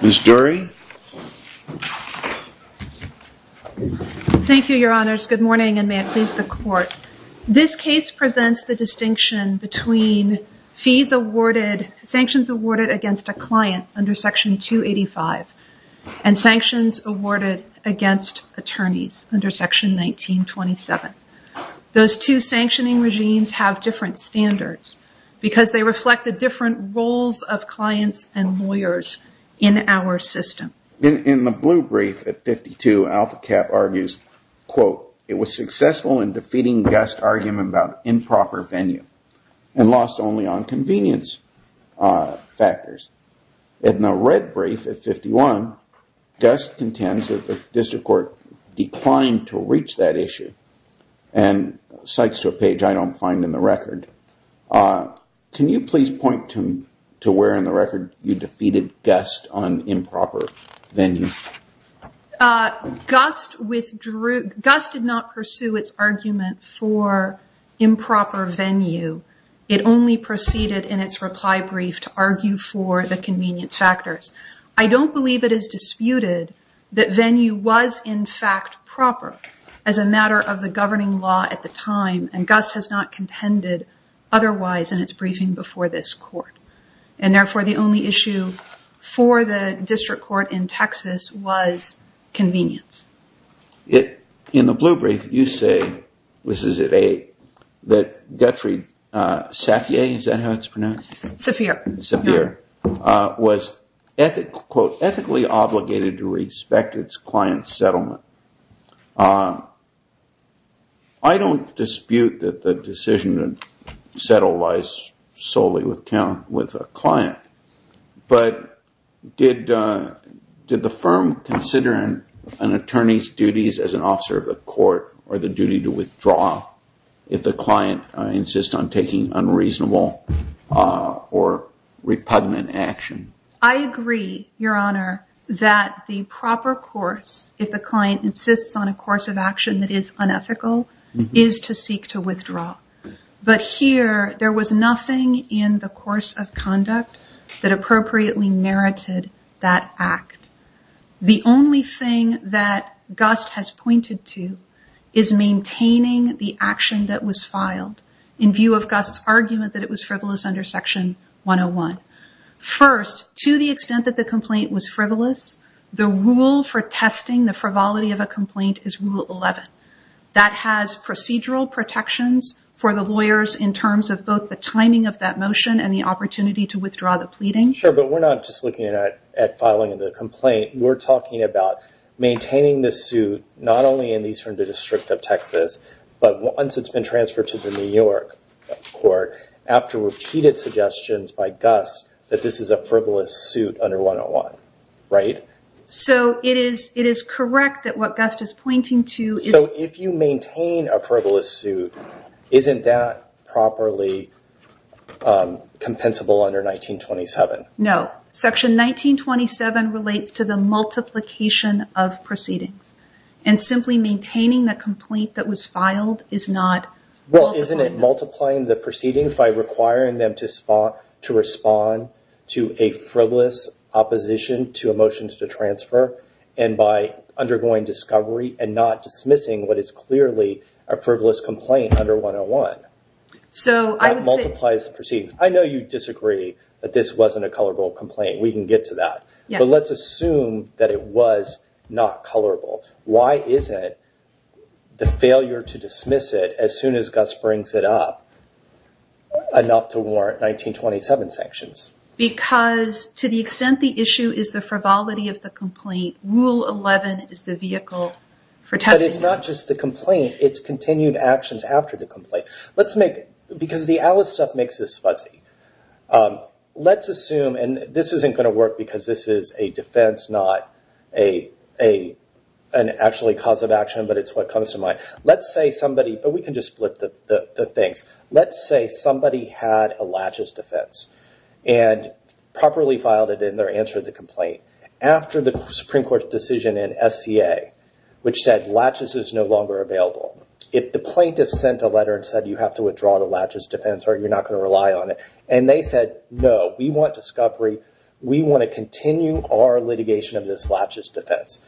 Ms. Dury Thank you, Your Honors. Good morning and may it please the Court. This case presents the distinction between sanctions awarded against a client under Section 285 and sanctions awarded against attorneys under Section 1927. Those two sanctioning regimes have different standards because they reflect the different roles of clients and lawyers in our system. In the blue brief at 52, AlphaCap argues, quote, it was successful in defeating Gust's argument about improper venue and lost only on convenience factors. In the red brief at 51, Gust contends that the District Court declined to reach that issue and cites to a page I don't find in the venue. Gust did not pursue its argument for improper venue. It only proceeded in its reply brief to argue for the convenience factors. I don't believe it is disputed that venue was in fact proper as a matter of the governing law at the time and Gust has not contended otherwise in its briefing before this Court. And therefore, the only issue for the District Court in Texas was convenience. In the blue brief, you say, this is at 8, that Guthrie Saphir was, quote, ethically obligated to respect its client's settlement. I don't dispute that the decision to settle lies solely with a client, but did the firm consider an attorney's duties as an officer of the court or the duty to withdraw if the client insists on taking unreasonable or repugnant action? I agree, Your Honor, that the proper course, if the client insists on a course of action that is But here, there was nothing in the course of conduct that appropriately merited that act. The only thing that Gust has pointed to is maintaining the action that was filed in view of Gust's argument that it was frivolous under Section 101. First, to the extent that the complaint was frivolous, the rule for testing the frivolity of a complaint is Rule 11. That has procedural protections for the lawyers in terms of both the timing of that motion and the opportunity to withdraw the pleading. Sure, but we're not just looking at filing the complaint. We're talking about maintaining the suit not only in the Eastern District of Texas, but once it's been transferred to the New York Court after repeated suggestions by Gust that this is a frivolous suit under 101, right? So it is correct that what Gust is pointing to is So if you maintain a frivolous suit, isn't that properly compensable under 1927? No. Section 1927 relates to the multiplication of proceedings. Simply maintaining the complaint that was filed is not multiplying the proceedings by requiring them to respond to a frivolous opposition to a motion to transfer and by undergoing discovery and not dismissing what is clearly a frivolous complaint under 101. That multiplies the proceedings. I know you disagree that this wasn't a colorable complaint. We can get to that. But let's assume that it was not colorable. Why isn't the failure to dismiss it as soon as Gust brings it up enough to warrant 1927 sanctions? Because to the extent the issue is the frivolity of the complaint, Rule 11 is the vehicle for testing. It's not just the complaint. It's continued actions after the complaint. Because the Alice stuff makes this fuzzy. Let's assume, and this isn't going to work because this is a defense, not an actually cause of action, but it's what comes to mind. Let's say somebody, had a laches defense and properly filed it in their answer to the complaint. After the Supreme Court's decision in SCA, which said laches is no longer available. If the plaintiff sent a letter and said, you have to withdraw the laches defense or you're not going to rely on it. And they said, no, we want discovery. We want to continue our litigation of this laches defense.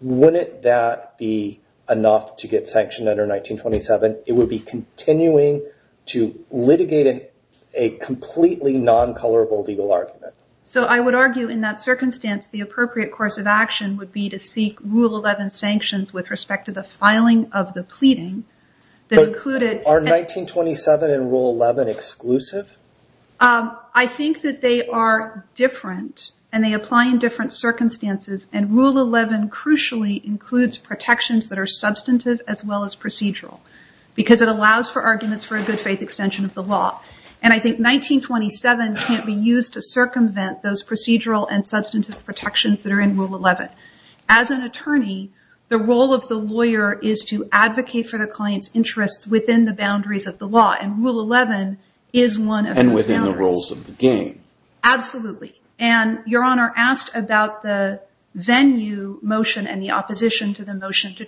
Wouldn't that be enough to get sanctioned under 1927? It would be continuing to litigate a completely non-colorable legal argument. So I would argue in that circumstance, the appropriate course of action would be to seek Rule 11 sanctions with respect to the filing of the pleading that included- Are 1927 and Rule 11 exclusive? I think that they are different and they apply in different circumstances. And Rule 11 crucially includes protections that are substantive as well as procedural. Because it allows for arguments for a good faith extension of the law. And I think 1927 can't be used to circumvent those procedural and substantive protections that are in Rule 11. As an attorney, the role of the lawyer is to advocate for the client's interests within the boundaries of the law. And Rule 11 is one of those boundaries. And within the rules of the game. Absolutely. And Your Honor asked about the venue motion and the opposition to the motion to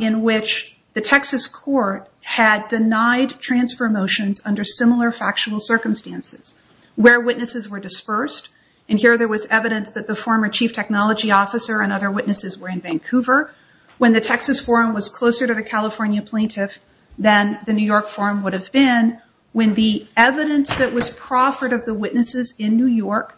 in which the Texas court had denied transfer motions under similar factual circumstances. Where witnesses were dispersed. And here there was evidence that the former chief technology officer and other witnesses were in Vancouver. When the Texas forum was closer to the California plaintiff than the New York forum would have been. When the evidence that was proffered of the witnesses in New York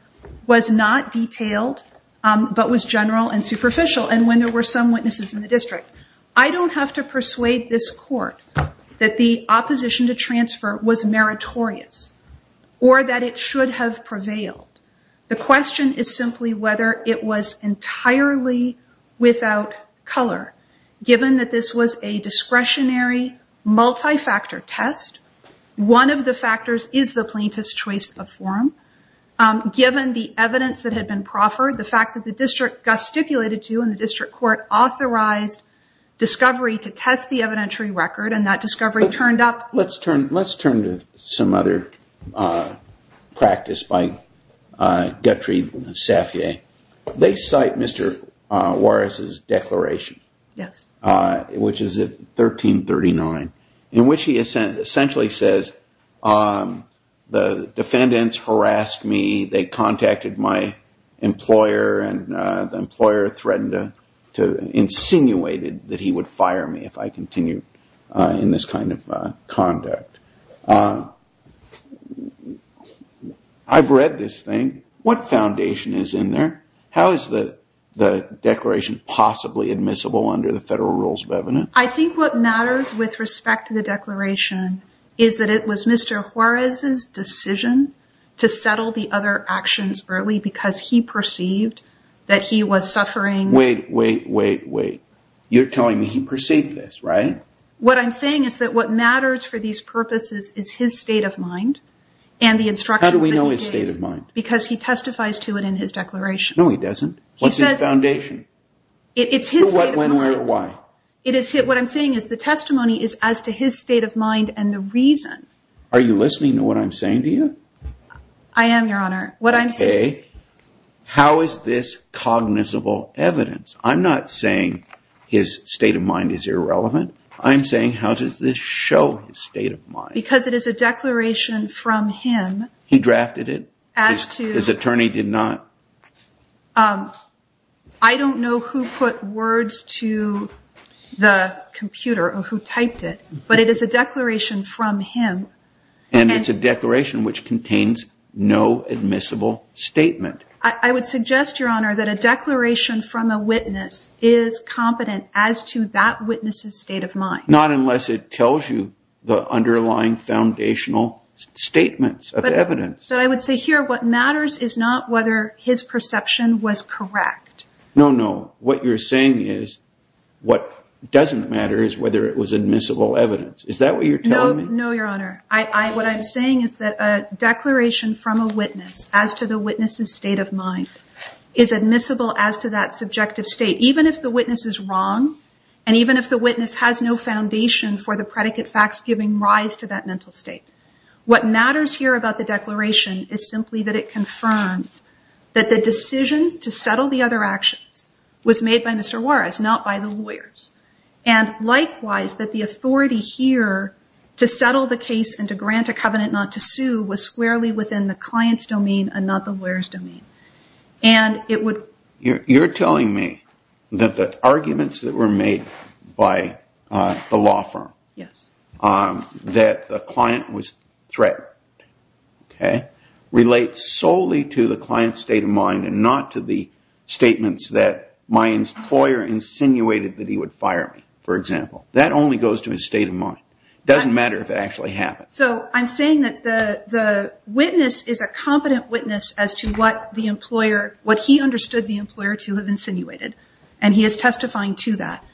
was not detailed, but was general and superficial. And when there were witnesses in the district. I don't have to persuade this court that the opposition to transfer was meritorious. Or that it should have prevailed. The question is simply whether it was entirely without color. Given that this was a discretionary multi-factor test. One of the factors is the plaintiff's choice of forum. Given the evidence that had been proffered. The fact that the district got stipulated to. And the district court authorized discovery to test the evidentiary record. And that discovery turned up. Let's turn to some other practice. They cite Mr. Warris' declaration. Which is at 1339. In which he essentially says the defendants harassed me. They contacted my employer. And the employer threatened to insinuated that he would fire me if I continued in this kind of conduct. I've read this thing. What foundation is in there? How is the declaration possibly admissible under the federal rules of evidence? I think what matters with respect to the declaration is that it was Mr. Warris' decision to settle the other actions early because he perceived that he was suffering. Wait, wait, wait, wait. You're telling me he perceived this, right? What I'm saying is that what matters for these purposes is his state of mind. And the instructions that he gave. How do we know his state of mind? Because he testifies to it in his declaration. No, he doesn't. What's his foundation? It's his state of mind. Why? What I'm saying is the testimony is as to his state of mind and the reason. Are you listening to what I'm saying to you? I am, Your Honor. Okay. How is this cognizable evidence? I'm not saying his state of mind is irrelevant. I'm saying how does this show his state of mind? Because it is a declaration from him. He drafted it? His attorney did not? No. I don't know who put words to the computer or who typed it, but it is a declaration from him. And it's a declaration which contains no admissible statement. I would suggest, Your Honor, that a declaration from a witness is competent as to that witness's state of mind. Not unless it tells you the underlying foundational statements of evidence. But I would say here what matters is not whether his perception was correct. No, no. What you're saying is what doesn't matter is whether it was admissible evidence. Is that what you're telling me? No, Your Honor. What I'm saying is that a declaration from a witness as to the witness's state of mind is admissible as to that subjective state, even if the witness is wrong and even if the witness has no foundation for the predicate facts giving rise to that mental state. What matters here about the declaration is simply that it confirms that the decision to settle the other actions was made by Mr. Juarez, not by the lawyers. And likewise, that the authority here to settle the case and to grant a covenant not to sue was squarely within the client's domain and not the lawyer's domain. You're telling me that the arguments that were made by the law firm, yes, that the client was threatened, OK, relate solely to the client's state of mind and not to the statements that my employer insinuated that he would fire me, for example. That only goes to his state of mind. It doesn't matter if it actually happened. So I'm saying that the witness is a competent witness as to what the employer, what he understood the employer to have insinuated. And he is testifying to that.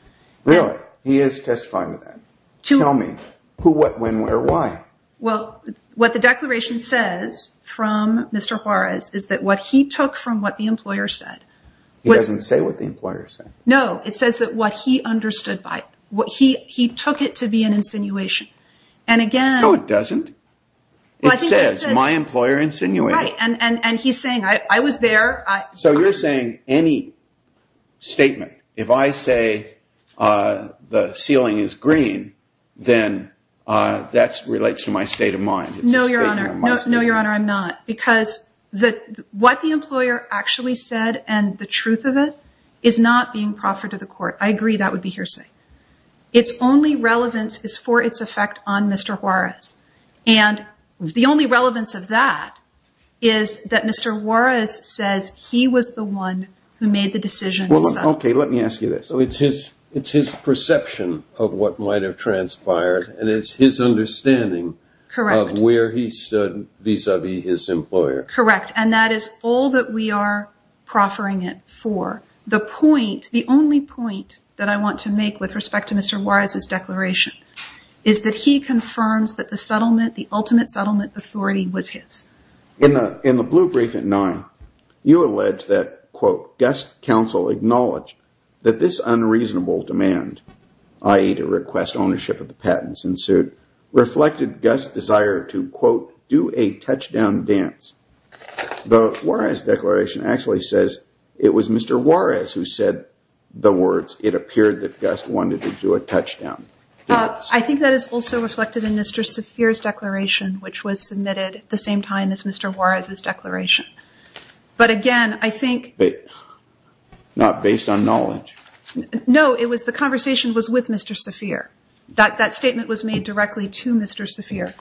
Really? He is testifying to that. Tell me who, what, when, where, why? Well, what the declaration says from Mr. Juarez is that what he took from what the employer said. He doesn't say what the employer said. No, it says that what he understood by what he took it to be an insinuation. And again... No, it doesn't. It says my employer insinuated. Right. And he's saying I was there. So you're saying any statement, if I say the ceiling is green, then that relates to my state of mind. No, Your Honor. No, Your Honor, I'm not. Because what the employer actually said and the truth of it is not being proffered to the court. I agree that would be hearsay. And the only relevance of that is that Mr. Juarez says he was the one who made the decision. Well, okay, let me ask you this. So it's his perception of what might have transpired and it's his understanding of where he stood vis-a-vis his employer. Correct. And that is all that we are proffering it for. The point, the only point that I want to make with respect to Mr. Juarez's declaration is that he confirms that the settlement, the ultimate settlement authority was his. In the blue brief at nine, you allege that, quote, Gust Council acknowledged that this unreasonable demand, i.e. to request ownership of the patents in suit, reflected Gust's desire to, quote, do a touchdown dance. The Juarez declaration actually says it was Mr. Juarez who said the words it appeared that Gust wanted to do a touchdown. I think that is also reflected in Mr. Saphir's declaration, which was submitted at the same time as Mr. Juarez's declaration. But again, I think... Not based on knowledge. No, it was the conversation was with Mr. Saphir. That statement was made directly to Mr. Saphir.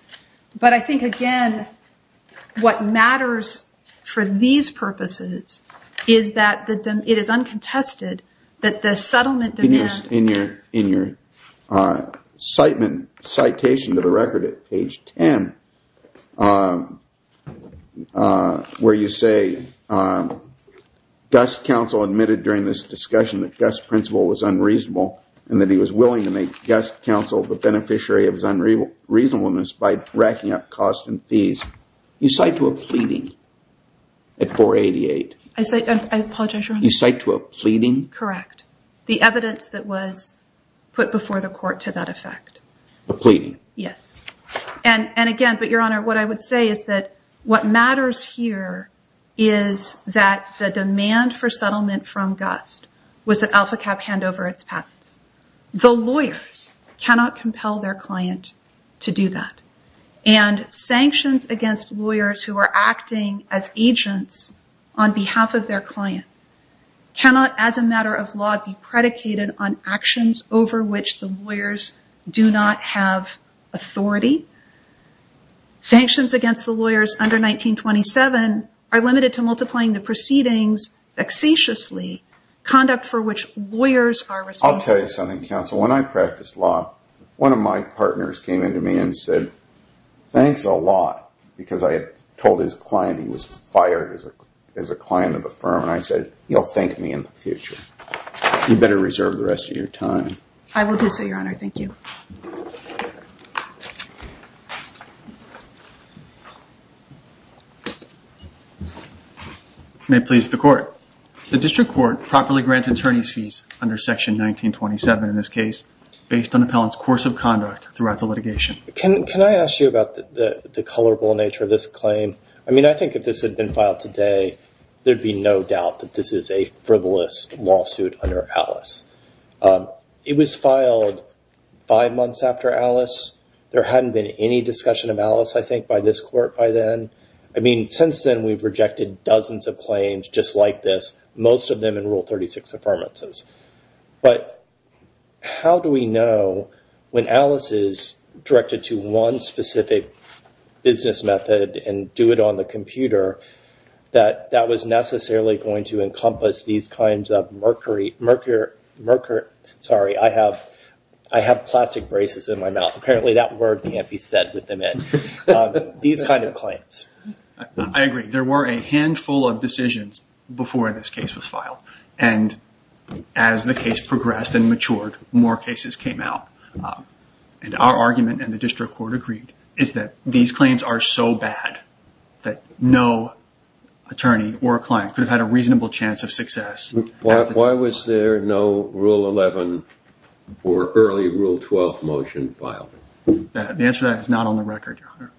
But I think, again, what matters for these purposes is that it is uncontested that the settlement demand... In your citation to the record at page 10, where you say, Gust Council admitted during this discussion that Gust's principle was unreasonable and that he was willing to make Gust Council the beneficiary of his reasonableness by racking up costs and fees. You cite to a pleading at 488. I apologize, Your Honor. You cite to a pleading? Correct. The evidence that was put before the court to that effect. A pleading? Yes. And again, but Your Honor, what I would say is that what matters here is that the demand for settlement from Gust was that AlphaCap hand over its patents. The lawyers cannot compel their client to do that. And sanctions against lawyers who are acting as agents on behalf of their client cannot, as a matter of law, be predicated on actions over which the lawyers do not have authority. Sanctions against the lawyers under 1927 are limited to multiplying the proceedings facetiously, conduct for which lawyers are responsible. I'll tell you something, counsel. When I practiced law, one of my partners came into me and said, thanks a lot, because I had told his client he was fired as a client of the firm. And I said, you'll thank me in the future. You better reserve the rest of your time. I will do so, Your Honor. Thank you. You may please the court. The district court properly grants attorney's fees under section 1927 in this case, based on appellant's course of conduct throughout the litigation. Can I ask you about the colorable nature of this claim? I mean, I think if this had been filed today, there'd be no doubt that this is a frivolous lawsuit under Alice. It was filed five months after Alice. There hadn't been any discussion of Alice, I think, by this court by then. I mean, since then, we've rejected dozens of claims just like this, most of them in Rule 36 affirmances. But how do we know when Alice is directed to one specific business method and do it on the computer, that that was necessarily going to encompass these kinds of mercury... Sorry, I have plastic braces in my mouth. Apparently, that word can't be said with them in. These kinds of claims. I agree. There were a handful of decisions before this case was filed. And as the case progressed and matured, more cases came out. And our argument, and the district court agreed, is that these claims are so bad that no attorney or client could have had a reasonable chance of success. Why was there no Rule 11 or early Rule 12 motion filed? The answer to that is not on the record, Your Honor.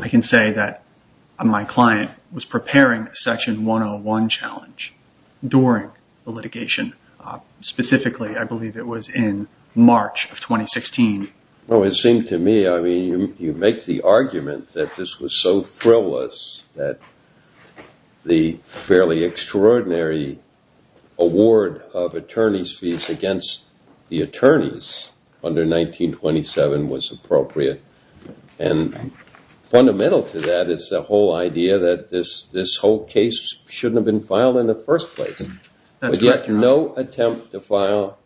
I can say that my client was preparing a Section 101 challenge during the litigation. Specifically, I believe it was in March of 2016. Well, it seemed to me, I mean, you make the argument that this was so frivolous that the fairly extraordinary award of attorney's fees against the attorneys under 1927 was appropriate. And fundamental to that is the whole idea that this whole case shouldn't have been filed in the first place. But yet no attempt to file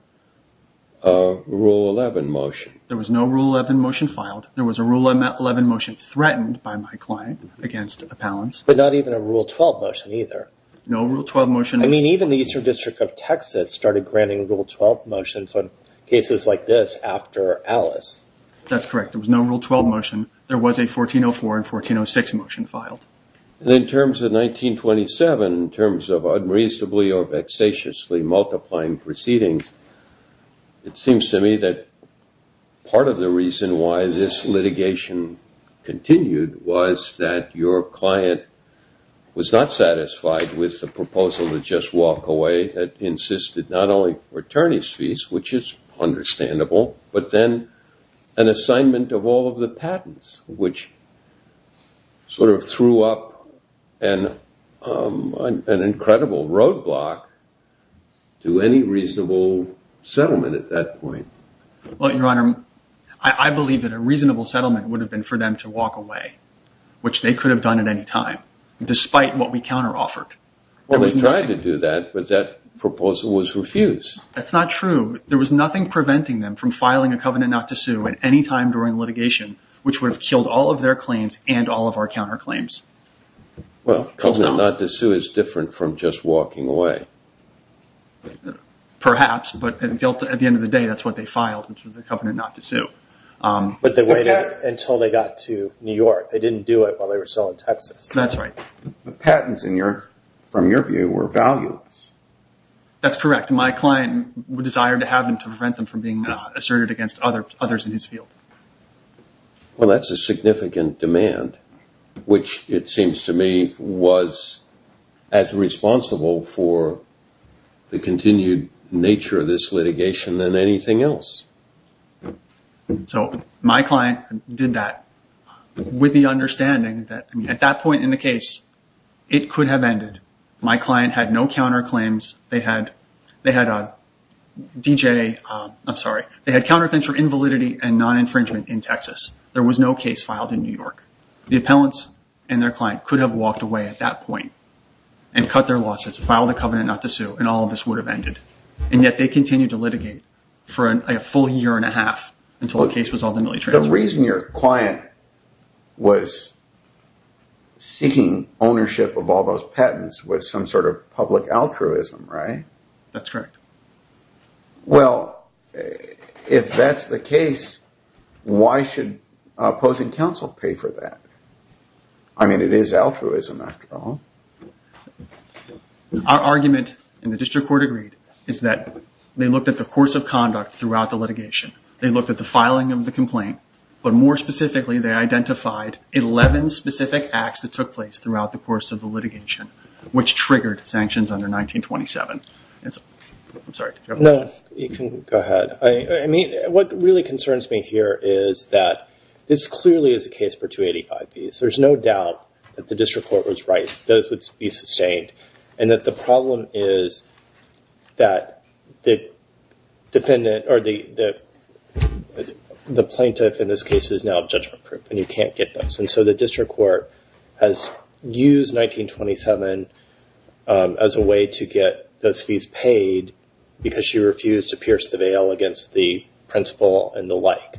a Rule 11 motion. There was no Rule 11 motion filed. There was a Rule 11 motion threatened by my client against appellants. But not even a Rule 12 motion either. No Rule 12 motion. I mean, even the Eastern District of Texas started granting Rule 12 motions on cases like this after Alice. That's correct. There was no Rule 12 motion. There was a 1404 and 1406 motion filed. And in terms of 1927, in terms of unreasonably or vexatiously multiplying proceedings, it seems to me that part of the reason why this litigation continued was that your client was not satisfied with the proposal to just walk away, had insisted not only for attorney's fees, which is understandable, which sort of threw up an incredible roadblock to any reasonable settlement at that point. Well, Your Honor, I believe that a reasonable settlement would have been for them to walk away, which they could have done at any time, despite what we counter-offered. Well, they tried to do that, but that proposal was refused. That's not true. There was nothing preventing them from filing a covenant not to sue at any time during litigation, which would have killed all of their claims and all of our counter-claims. Well, covenant not to sue is different from just walking away. Perhaps, but at the end of the day, that's what they filed, which was a covenant not to sue. But they waited until they got to New York. They didn't do it while they were still in Texas. That's right. The patents, from your view, were valueless. That's correct. My client desired to have them to prevent them from being asserted against others in his field. Well, that's a significant demand, which it seems to me was as responsible for the continued nature of this litigation than anything else. So my client did that with the understanding that at that point in the case, it could have ended. My client had no counter-claims. They had counter-claims for invalidity and non-infringement in Texas. There was no case filed in New York. The appellants and their client could have walked away at that point and cut their losses, filed a covenant not to sue, and all of this would have ended. And yet they continued to litigate for a full year and a half until the case was ultimately transferred. The reason your client was seeking ownership of all those patents was some sort of public altruism, right? That's correct. Well, if that's the case, why should opposing counsel pay for that? I mean, it is altruism after all. Our argument, and the district court agreed, is that they looked at the course of conduct throughout the litigation. They looked at the filing of the complaint. But more specifically, they identified 11 specific acts that took place throughout the course of the litigation, which triggered sanctions under 1927. No, you can go ahead. What really concerns me here is that this clearly is a case for 285 fees. There's no doubt that the district court was right. Those would be sustained. And that the problem is that the plaintiff in this case is now judgment-proof, and you can't get those. So the district court has used 1927 as a way to get those fees paid because she refused to pierce the veil against the principal and the like.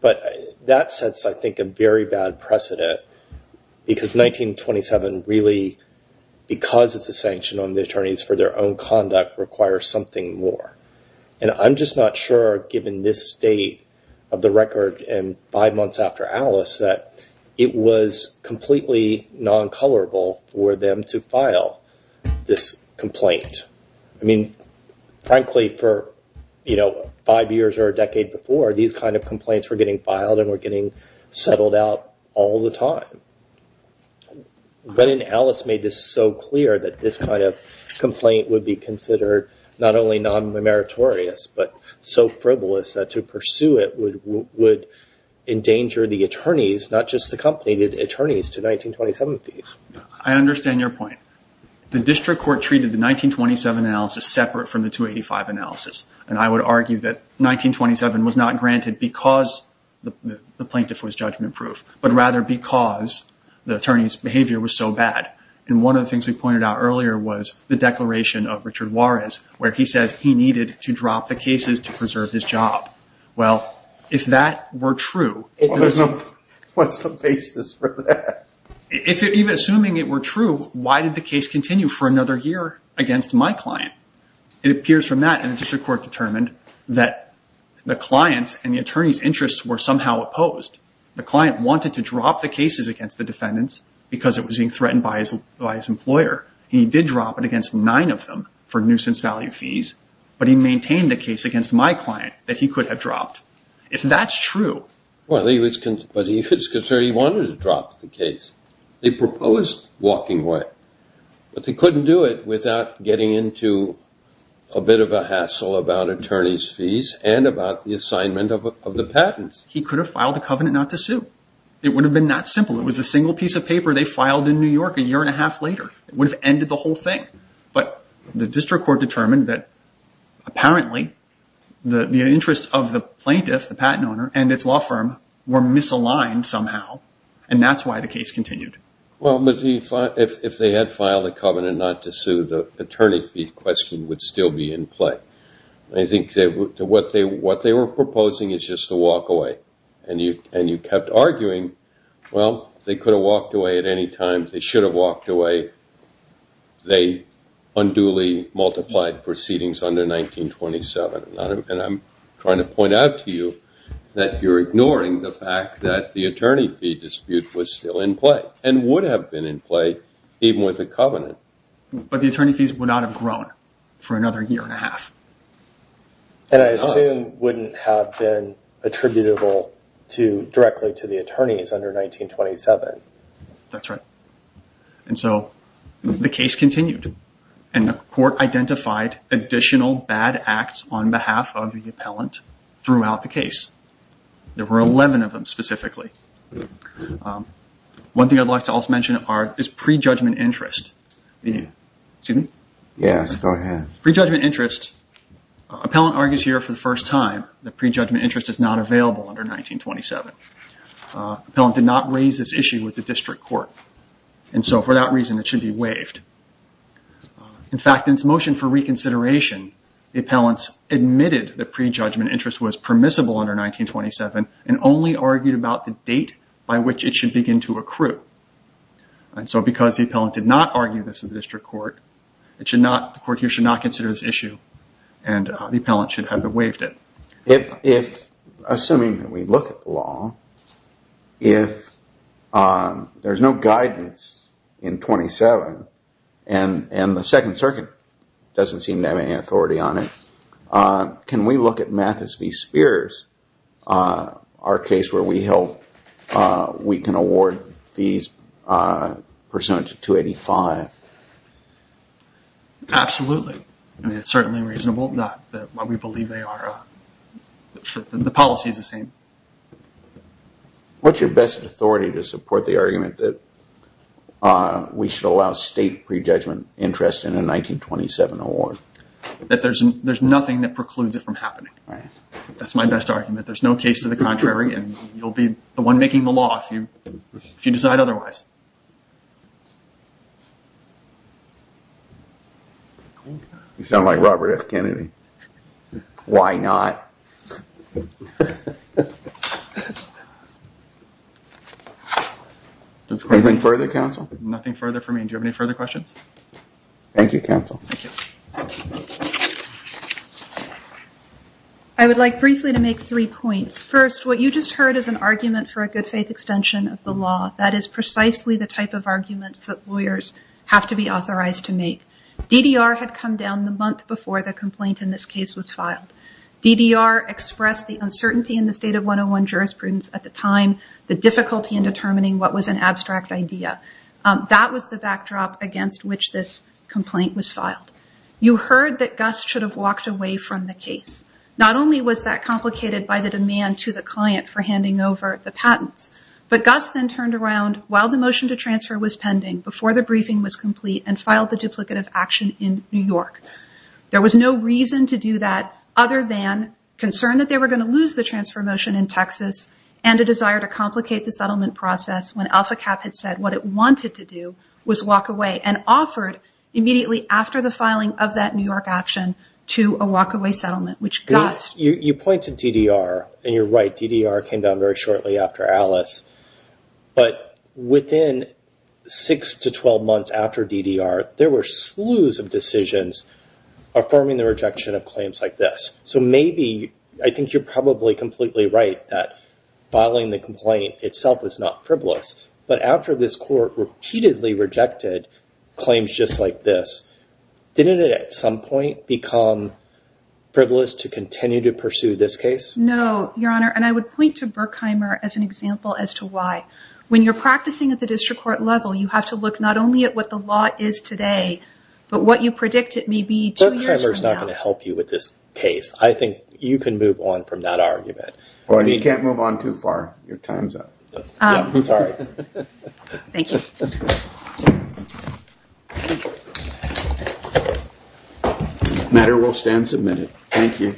But that sets, I think, a very bad precedent because 1927 really, because it's a sanction on the attorneys for their own conduct, requires something more. And I'm just not sure, given this state of the record and five months after Alice, that it was completely non-colorable for them to file this complaint. I mean, frankly, for five years or a decade before, these kind of complaints were getting filed and were getting settled out all the time. But then Alice made this so clear that this kind of complaint would be considered not only non-meritorious, but so frivolous that to pursue it would endanger the attorneys, not just the company, the attorneys to 1927 fees. I understand your point. The district court treated the 1927 analysis separate from the 285 analysis. And I would argue that 1927 was not granted because the plaintiff was judgment-proof, but rather because the attorney's behavior was so bad. And one of the things we pointed out earlier was the declaration of Richard Juarez, where he says he needed to drop the cases to preserve his job. Well, if that were true... What's the basis for that? If even assuming it were true, why did the case continue for another year against my client? It appears from that, and the district court determined that the client's and the attorney's interests were somehow opposed. The client wanted to drop the cases against the defendants because it was being threatened by his employer. He did drop it against nine of them for nuisance value fees, but he maintained the case against my client that he could have dropped. If that's true... But he was concerned he wanted to drop the case. They proposed walking away, but they couldn't do it without getting into a bit of a hassle about attorney's fees and about the assignment of the patents. He could have filed a covenant not to sue. It would have been that simple. It was a single piece of paper they filed in New York a year and a half later. It would have ended the whole thing. But the district court determined that apparently the interest of the plaintiff, the patent owner, and its law firm were misaligned somehow, and that's why the case continued. Well, if they had filed a covenant not to sue, the attorney fee question would still be in play. I think what they were proposing is just to walk away, and you kept arguing, well, they could have walked away at any time. They should have walked away. They unduly multiplied proceedings under 1927, and I'm trying to point out to you that you're ignoring the fact that the attorney fee dispute was still in play and would have been in play even with a covenant. But the attorney fees would not have grown for another year and a half. And I assume wouldn't have been attributable directly to the attorneys under 1927. That's right, and so the case continued, and the court identified additional bad acts on behalf of the appellant throughout the case. There were 11 of them specifically. One thing I'd like to also mention is pre-judgment interest. Excuse me? Yes, go ahead. Pre-judgment interest. Appellant argues here for the first time that pre-judgment interest is not available under 1927. Appellant did not raise this issue with the district court, and so for that reason it should be waived. In fact, in its motion for reconsideration, the appellants admitted that pre-judgment interest was permissible under 1927 and only argued about the date by which it should begin to accrue. And so because the appellant did not argue this in the district court, the court here should not consider this issue, and the appellant should have waived it. Assuming that we look at the law, if there's no guidance in 1927, and the Second Circuit doesn't seem to have any authority on it, can we look at Mathis v. Spears, our case where we held we can award fees pursuant to 285? Absolutely. I mean, it's certainly reasonable. Not that we believe they are. The policy is the same. What's your best authority to support the argument that we should allow state pre-judgment interest in a 1927 award? That there's nothing that precludes it from happening. That's my best argument. There's no case to the contrary, and you'll be the one making the law if you decide otherwise. You sound like Robert F. Kennedy. Why not? Anything further, counsel? Nothing further for me. Thank you, counsel. Thank you. I would like briefly to make three points. First, what you just heard is an argument for a good faith extension of the law. That is precisely the type of arguments that lawyers have to be authorized to make. DDR had come down the month before the complaint in this case was filed. DDR expressed the uncertainty in the state of 101 jurisprudence at the time, the difficulty in determining what was an abstract idea. That was the backdrop against which this complaint was filed. You heard that Gus should have walked away from the case. Not only was that complicated by the demand to the client for handing over the patents, but Gus then turned around while the motion to transfer was pending, before the briefing was complete, and filed the duplicative action in New York. There was no reason to do that other than concern that they were going to lose the transfer motion in Texas and a desire to complicate the settlement process when AlphaCap had said what it wanted to do was walk away and offered, immediately after the filing of that New York action, to a walkaway settlement, which Gus... You pointed to DDR, and you're right. DDR came down very shortly after Alice. But within six to 12 months after DDR, there were slews of decisions affirming the rejection of claims like this. So maybe, I think you're probably completely right that filing the complaint itself is not frivolous. But after this court repeatedly rejected claims just like this, didn't it at some point become frivolous to continue to pursue this case? No, Your Honor. And I would point to Berkheimer as an example as to why. When you're practicing at the district court level, you have to look not only at what the law is today, but what you predict it may be two years from now. Berkheimer's not going to help you with this case. I think you can move on from that argument. You can't move on too far. Your time's up. I'm sorry. Thank you. Matter will stand submitted. Thank you.